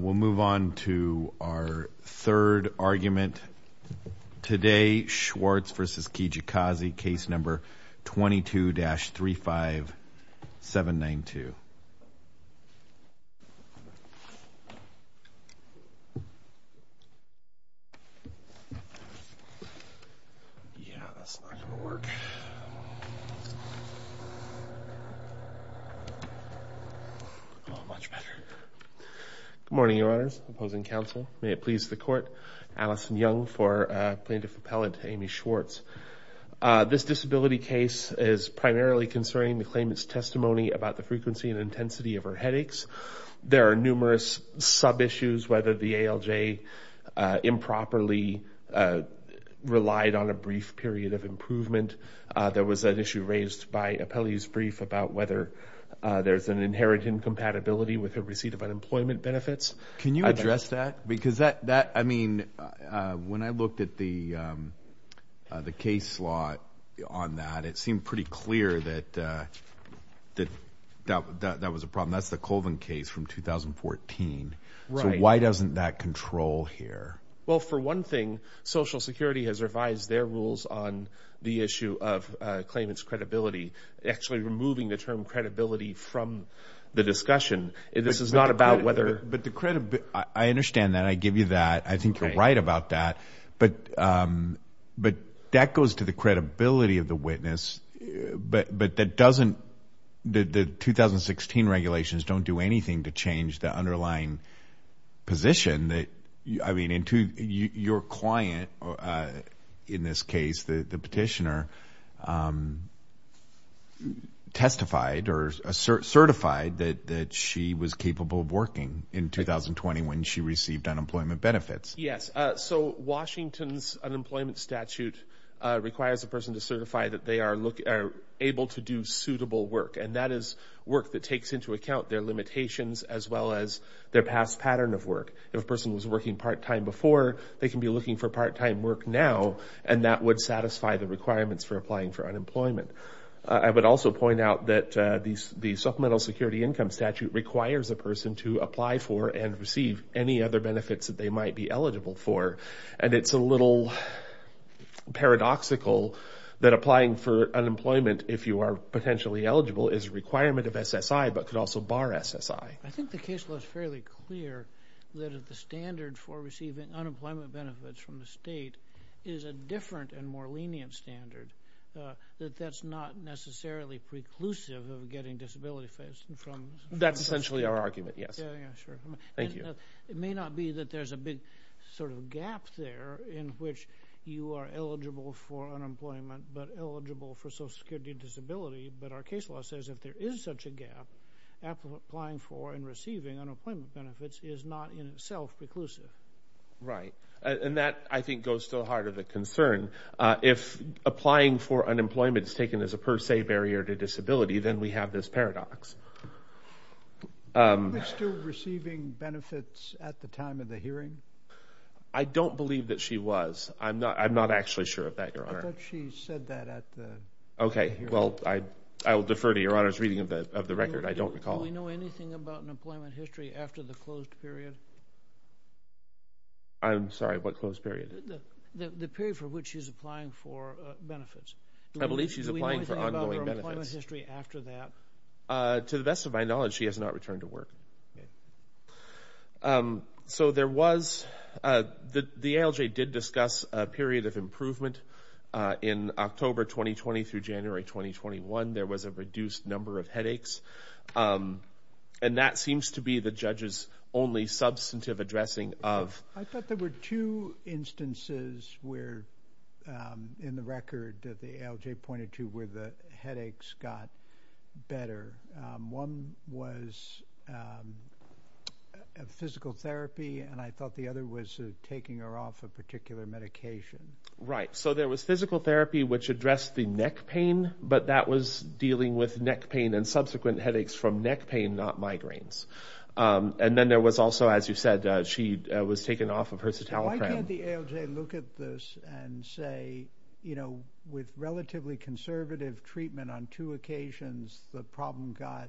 We'll move on to our third argument today. Schwarz v. Kijakazi, case number 22-35792. Yeah, that's not going to work. Oh, much better. Good morning, your honors. Opposing counsel. May it please the court. Allison Young for plaintiff appellate Amy Schwarz. This disability case is primarily concerning the claimant's testimony about the frequency and intensity of her headaches. There are numerous sub-issues, whether the ALJ improperly relied on a brief period of improvement. There was an issue raised by appellee's brief about whether there's an inherent incompatibility with the receipt of unemployment benefits. Can you address that? Because that, I mean, when I looked at the case slot on that, it seemed pretty clear that that was a problem. That's the Colvin case from 2014. So why doesn't that control here? Well, for one thing, Social Security has revised their rules on the issue of claimant's credibility, actually removing the term credibility from the discussion. This is not about whether... But the credibility... I understand that. I give you that. I think you're right about that. But that goes to the credibility of the witness. But that doesn't... The 2016 regulations don't do anything to change the underlying position that... I mean, your client, in this case, the petitioner, testified or certified that she was capable of working in 2020 when she received unemployment benefits. Yes. So Washington's unemployment statute requires a person to certify that they are able to do suitable work, and that is work that takes into account their limitations as well as their past pattern of work. If a person was working part-time before, they can be looking for part-time work now, and that would satisfy the requirements for applying for unemployment. I would also point out that the Supplemental Security Income Statute requires a person to apply for and receive any other benefits that they might be eligible for. And it's a little paradoxical that applying for unemployment, if you are potentially eligible, is a requirement of SSI but could also bar SSI. I think the case was fairly clear that the standard for receiving unemployment benefits from the state is a different and more lenient standard, that that's not necessarily preclusive of getting disability benefits from... That's essentially our argument, yes. Thank you. It may not be that there's a big sort of gap there in which you are eligible for unemployment but eligible for social security disability, but our case law says if there is such a gap, applying for and receiving unemployment benefits is not in itself preclusive. Right. And that, I think, goes to the heart of the concern. If applying for unemployment is taken as a per se barrier to disability, then we have this paradox. Is she still receiving benefits at the time of the hearing? I don't believe that she was. I'm not actually sure of that, Your Honor. I thought she said that at the hearing. Okay. Well, I will defer to Your Honor's reading of the record. I don't recall. Do we know anything about an employment history after the closed period? I'm sorry, what closed period? The period for which she's applying for benefits. I believe she's applying for ongoing benefits. Do we know anything about her employment history after that? To the best of my knowledge, she has not returned to work. So there was, the ALJ did discuss a period of improvement in October 2020 through January 2021. There was a reduced number of headaches, and that seems to be the judge's only substantive addressing of... I thought there were two instances where, in the record that the ALJ pointed to, where the one was a physical therapy, and I thought the other was taking her off a particular medication. Right. So there was physical therapy, which addressed the neck pain, but that was dealing with neck pain and subsequent headaches from neck pain, not migraines. And then there was also, as you said, she was taken off of her citalopram. Why can't the ALJ look at this and say, you know, with relatively conservative treatment on two occasions, the problem got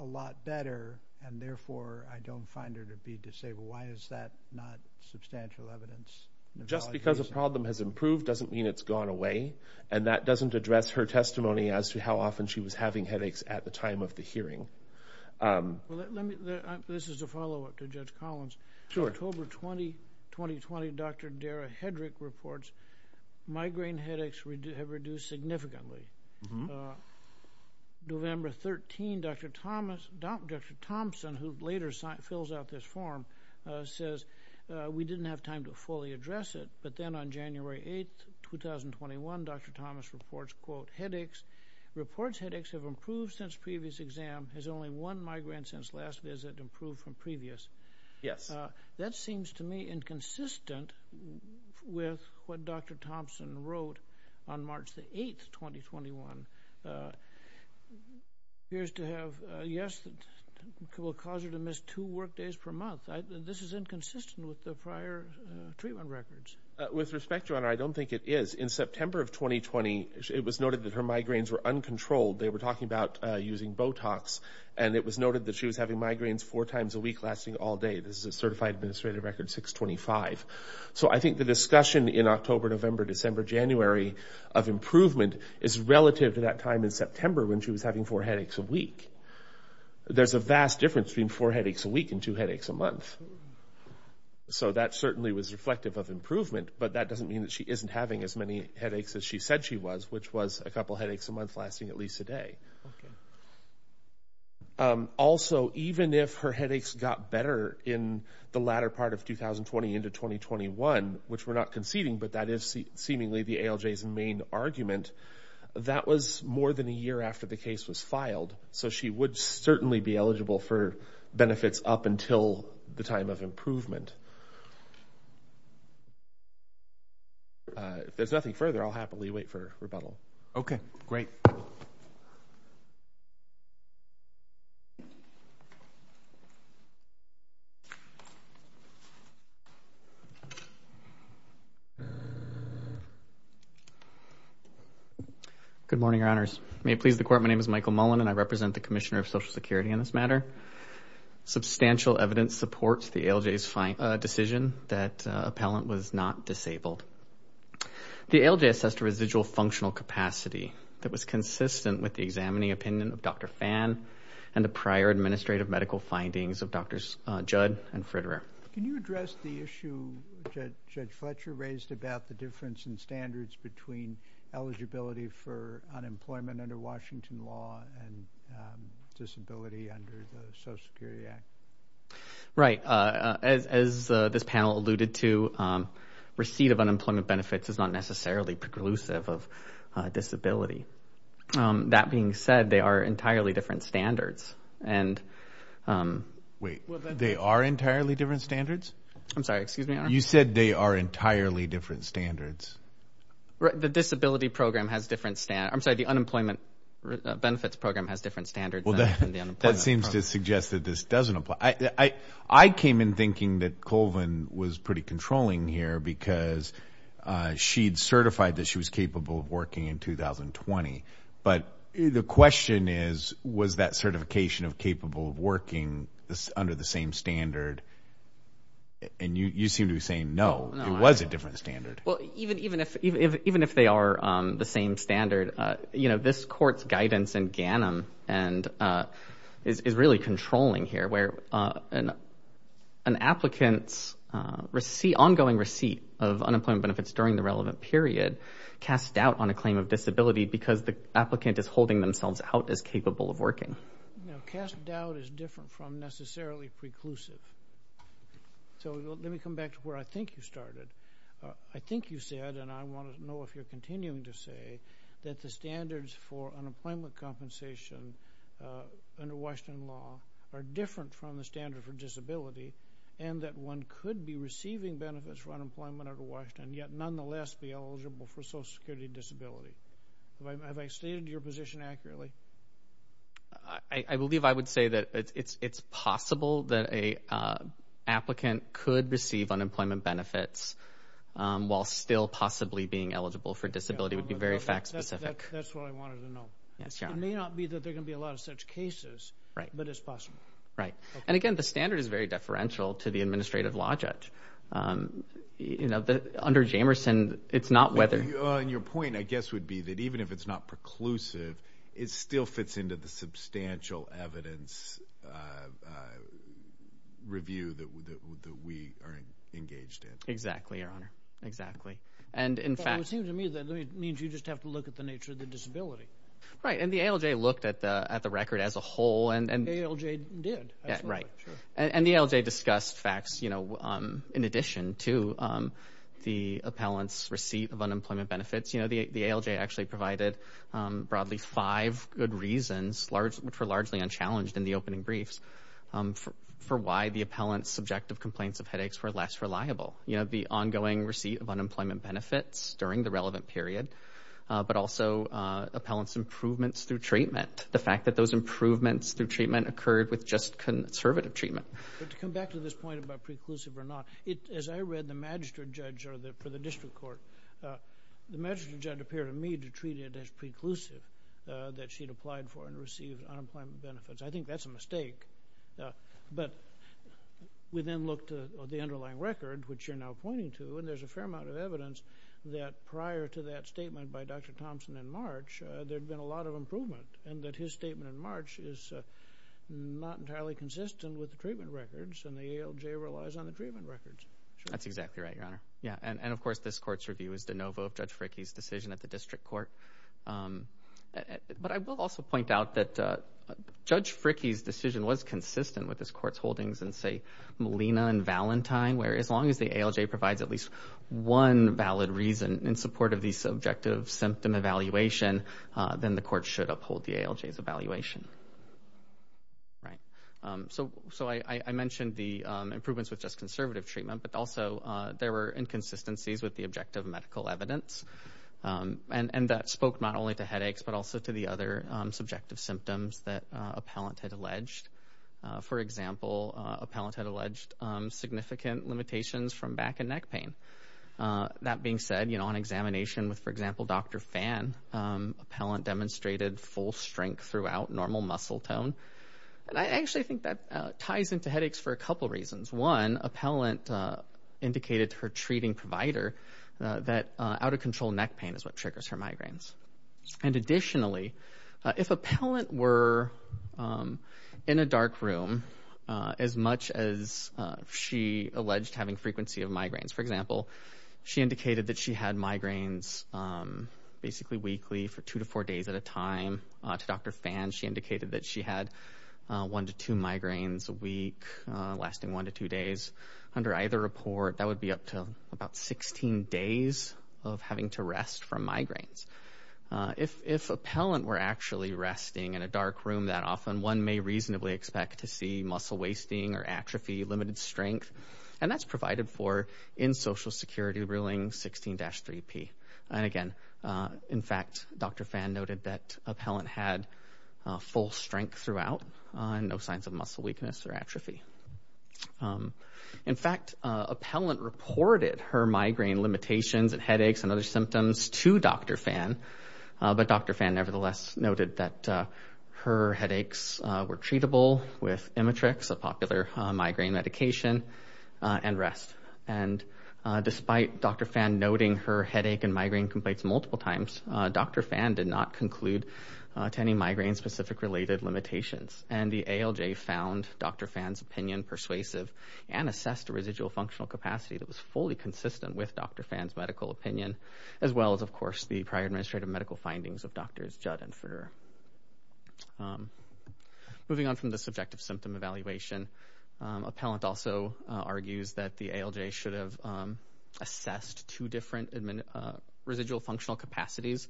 a lot better, and therefore, I don't find her to be disabled? Why is that not substantial evidence? Just because a problem has improved doesn't mean it's gone away, and that doesn't address her testimony as to how often she was having headaches at the time of the hearing. Well, let me, this is a follow-up to Judge Collins. Sure. October 2020, Dr. Dara Hedrick reports migraine headaches have reduced significantly. November 13, Dr. Thompson, who later fills out this form, says we didn't have time to fully address it, but then on January 8, 2021, Dr. Thomas reports, quote, headaches, reports headaches have improved since previous exam, has only one migraine since last visit improved from previous. Yes. That seems to me inconsistent with what Dr. Thompson wrote on March the 8th, 2021. Here's to have, yes, that will cause her to miss two work days per month. This is inconsistent with the prior treatment records. With respect, Your Honor, I don't think it is. In September of 2020, it was noted that her migraines were uncontrolled. They were talking about using Botox, and it was noted that she was having migraines four times a week, lasting all day. This is a certified administrative record 625. So I think the discussion in October, November, December, January of improvement is relative to that time in September when she was having four headaches a week. There's a vast difference between four headaches a week and two headaches a month. So that certainly was reflective of improvement, but that doesn't mean that she isn't having as many headaches as she said she was, which was a couple headaches a month lasting at least a day. Okay. Also, even if her headaches got better in the latter part of 2020 into 2021, which we're not conceding, but that is seemingly the ALJ's main argument, that was more than a year after the case was filed. So she would certainly be eligible for benefits up until the time of improvement. If there's nothing further, I'll happily wait for rebuttal. Okay, great. Thank you. Good morning, your honors. May it please the court. My name is Michael Mullen and I represent the Commissioner of Social Security in this matter. Substantial evidence supports the ALJ's decision that appellant was not disabled. The ALJ assessed a residual functional capacity that was consistent with the examining opinion of Dr. Phan and the prior administrative medical findings of Drs. Judd and Fritterer. Can you address the issue Judge Fletcher raised about the difference in standards between eligibility for unemployment under Washington law and disability under the Social Security Act? Right, as this panel alluded to, receipt of unemployment benefits is not necessarily preclusive of disability. That being said, they are entirely different standards. Wait, they are entirely different standards? I'm sorry, excuse me, your honor? You said they are entirely different standards. The disability program has different standards. I'm sorry, the unemployment benefits program has different standards. That seems to suggest that this doesn't apply. I came in thinking that Colvin was pretty controlling here because she'd certified that she was capable of working in 2020. But the question is, was that certification of capable of working under the same standard? And you seem to be saying no, it was a different standard. Well, even if they are the same standard, you know, this court's guidance in GANM and is really controlling here where an applicant's ongoing receipt of unemployment benefits during the relevant period casts doubt on a claim of disability because the applicant is holding themselves out as capable of working. Cast doubt is different from necessarily preclusive. So let me come back to where I think you started. I think you said, and I want to know if you're continuing to say, that the standards for unemployment compensation under Washington law are different from the standard for disability and that one could be receiving benefits for unemployment under Washington yet nonetheless be eligible for Social Security disability. Have I stated your position accurately? I believe I would say that it's possible that an applicant could receive unemployment benefits while still possibly being eligible for disability would be very fact specific. That's what I wanted to know. It may not be that there can be a lot of such cases, but it's possible. Right. And again, the standard is very deferential to the administrative law judge. You know, under Jamerson, it's not whether... And your point, I guess, would be that even if it's not preclusive, it still fits into the substantial evidence review that we are engaged in. Exactly, Your Honor. Exactly. And in fact... It would seem to me that it means you just have to look at the nature of the disability. Right. And the ALJ looked at the record as a whole and... The ALJ did. Right. And the ALJ discussed facts, you know, in addition to the appellant's receipt of unemployment benefits. You know, the ALJ actually provided broadly five good reasons, which were largely unchallenged in the opening briefs, for why the appellant's subjective complaints of headaches were less reliable. You know, the ongoing receipt of unemployment benefits during the relevant period, but also appellant's improvements through treatment. The fact that those improvements through treatment occurred with just conservative treatment. But to come back to this point about preclusive or not, as I read the magistrate judge for the district court, the magistrate judge appeared to me to treat it as preclusive, that she'd I think that's a mistake. But we then looked at the underlying record, which you're now pointing to, and there's a fair amount of evidence that prior to that statement by Dr. Thompson in March, there'd been a lot of improvement. And that his statement in March is not entirely consistent with the treatment records, and the ALJ relies on the treatment records. That's exactly right, Your Honor. Yeah. And of course, this court's review is de novo of Judge Fricke's decision at the district court. But I will also point out that Judge Fricke's decision was consistent with this court's holdings in say, Molina and Valentine, where as long as the ALJ provides at least one valid reason in support of the subjective symptom evaluation, then the court should uphold the ALJ's evaluation. Right. So I mentioned the improvements with just conservative treatment, but also there were inconsistencies with the objective medical evidence. And that spoke not only to headaches, but also to the other subjective symptoms that appellant had alleged. For example, appellant had alleged significant limitations from back and neck pain. That being said, you know, on examination with, for example, Dr. Phan, appellant demonstrated full strength throughout, normal muscle tone. And I actually think that ties into headaches for a couple reasons. One, appellant indicated to her treating provider that out of control neck pain is what triggers her migraines. And additionally, if appellant were in a dark room as much as she alleged having frequency of migraines, for example, she indicated that she had migraines basically weekly for two to four days at a time. To Dr. Phan, she indicated that she had one to two migraines a week, lasting one to two days. Under either report, that would be up to about 16 days of having to rest from migraines. If appellant were actually resting in a dark room that often, one may reasonably expect to see muscle wasting or atrophy, limited strength. And that's provided for in Social Security Ruling 16-3P. And again, in fact, Dr. Phan noted that appellant had full strength throughout and no signs of muscle weakness or atrophy. In fact, appellant reported her migraine limitations and headaches and other symptoms to Dr. Phan, but Dr. Phan nevertheless noted that her headaches were treatable with Imatrix, a popular migraine medication, and rest. And despite Dr. Phan noting her headache and migraine complaints multiple times, Dr. Phan did not conclude to any migraine-specific related limitations. And the ALJ found Dr. Phan's opinion persuasive and assessed a residual functional capacity that was fully consistent with Dr. Phan's medical opinion, as well as, of course, the prior administrative medical findings of Drs. Judd and Fruehrer. Moving on from the subjective symptom evaluation, appellant also argues that the ALJ should have assessed two different residual functional capacities,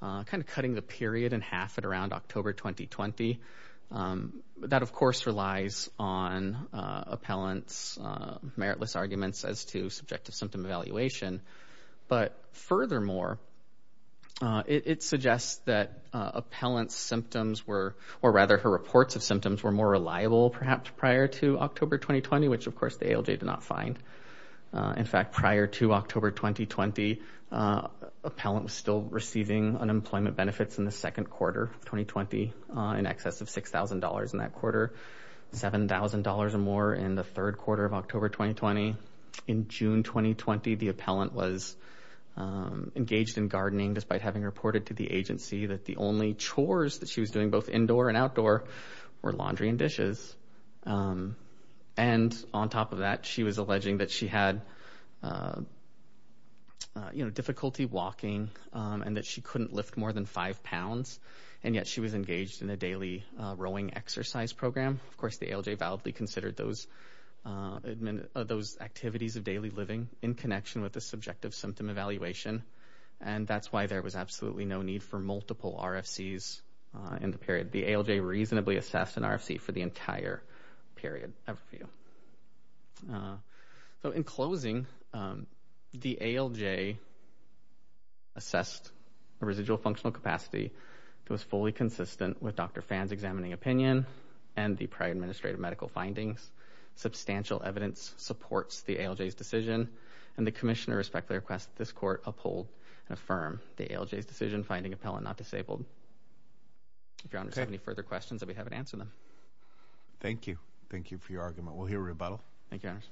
kind of cutting the period in half at around October 2020. That, of course, relies on appellant's meritless arguments as to subjective symptom evaluation. But furthermore, it suggests that appellant's symptoms were, or rather her reports of symptoms were more reliable, perhaps, prior to October 2020, which, of course, the ALJ did not find. In fact, prior to October 2020, appellant was still receiving unemployment benefits in the second quarter of 2020, in excess of $6,000 in that quarter, $7,000 or more in the third quarter of October 2020. In June 2020, the appellant was engaged in gardening, despite having reported to the agency that the only chores that she was doing, both indoor and outdoor, were laundry and dishes. And on top of that, she was alleging that she had, you know, difficulty walking and that she couldn't lift more than five pounds, and yet she was engaged in a daily rowing exercise program. Of course, the ALJ validly considered those activities of daily living in connection with the subjective symptom evaluation, and that's why there was absolutely no need for multiple RFCs in the period. The ALJ reasonably assessed an RFC for the entire period of review. So, in closing, the ALJ assessed a residual functional capacity that was fully consistent with Dr. Phan's examining opinion and the prior administrative medical findings. Substantial evidence supports the ALJ's decision, and the Commissioner respectfully requests that this Court uphold and affirm the ALJ's decision finding appellant not disabled. If Your Honors have any further questions, I'll be happy to answer them. Thank you. Thank you for your argument. We'll hear a rebuttal. Thank you, Your Honors.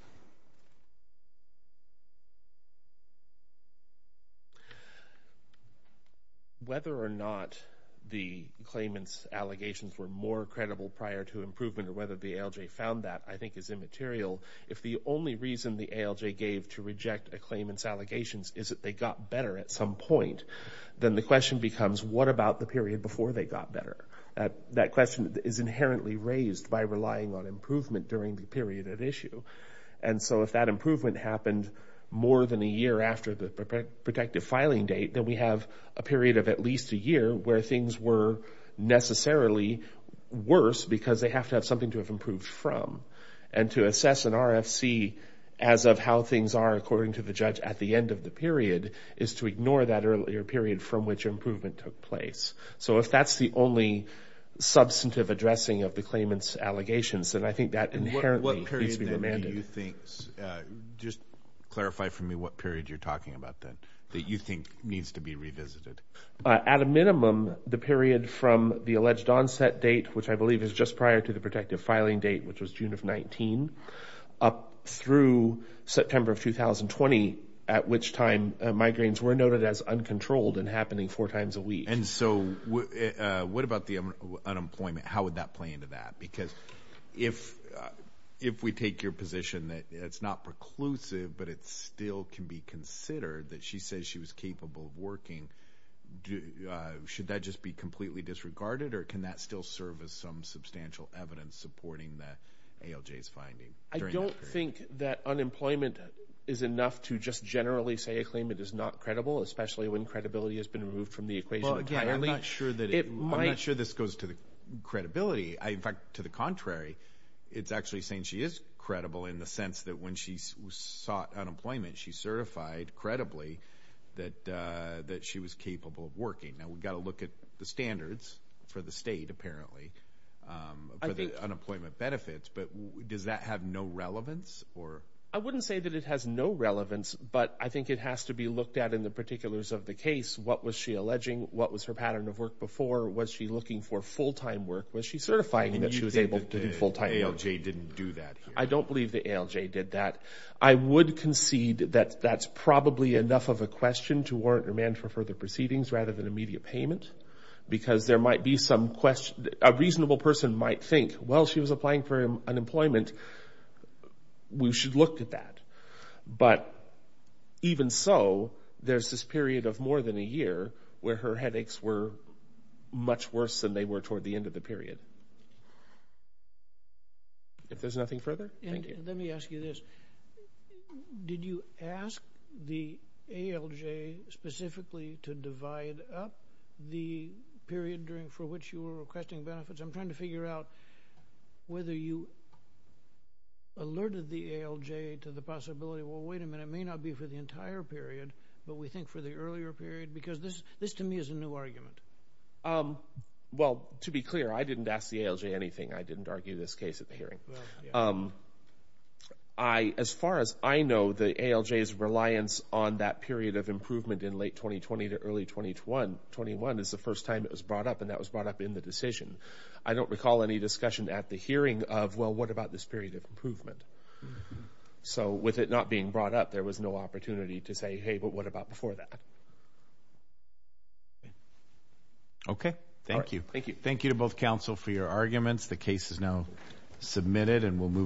Whether or not the claimant's allegations were more credible prior to improvement or whether the ALJ found that, I think is immaterial. If the only reason the ALJ gave to reject a claimant's allegations is that they got better at some point, then the question becomes, what about the period before they got better? That question is inherently raised by relying on improvement during the period at issue. And so if that improvement happened more than a year after the protective filing date, then we have a period of at least a year where things were necessarily worse because they have to have something to have improved from. And to assess an RFC as of how things are according to the judge at the end of the period is to ignore that earlier period from which improvement took place. So if that's the only substantive addressing of the claimant's allegations, then I think that inherently needs to be remanded. What period do you think, just clarify for me what period you're talking about then, that you think needs to be revisited? At a minimum, the period from the alleged onset date, which I believe is just prior to the protective filing date, which was June of 19, up through September of 2020, at which time migraines were noted as uncontrolled and happening four times a week. And so what about the unemployment? How would that play into that? Because if we take your position that it's not preclusive but it still can be considered that she says she was capable of working, should that just be completely disregarded or can that still serve as some substantial evidence supporting the ALJ's finding? I don't think that unemployment is enough to just generally say a claimant is not credible, especially when credibility has been removed from the equation entirely. I'm not sure this goes to the credibility. In fact, to the contrary, it's actually saying she is credible in the sense that when she sought unemployment, she certified credibly that she was capable of working. Now, we've got to look at the standards for the state, apparently, for the unemployment benefits, but does that have no relevance? I wouldn't say that it has no relevance, but I think it has to be looked at in the particulars of the case. What was she alleging? What was her pattern of work before? Was she looking for full-time work? Was she certifying that she was able to do full-time work? And you think that the ALJ didn't do that here? I don't believe the ALJ did that. I would concede that that's probably enough of a question to warrant remand for further proceedings rather than immediate payment, because there might be some question—a reasonable person might think, well, she was applying for unemployment. We should look at that, but even so, there's this period of more than a year where her headaches were much worse than they were toward the end of the period. If there's nothing further, thank you. Let me ask you this. Did you ask the ALJ specifically to divide up the period for which you were requesting benefits? I'm trying to figure out whether you alerted the ALJ to the possibility, well, wait a minute, it may not be for the entire period, but we think for the earlier period, because this to me is a new argument. Well, to be clear, I didn't ask the ALJ anything. I didn't argue this case at the hearing. As far as I know, the ALJ's reliance on that period of improvement in late 2020 to 2021 is the first time it was brought up, and that was brought up in the decision. I don't recall any discussion at the hearing of, well, what about this period of improvement? So with it not being brought up, there was no opportunity to say, hey, but what about before that? Okay. Thank you. Thank you. Thank you to both counsel for your arguments. The case is now submitted, and we'll move on.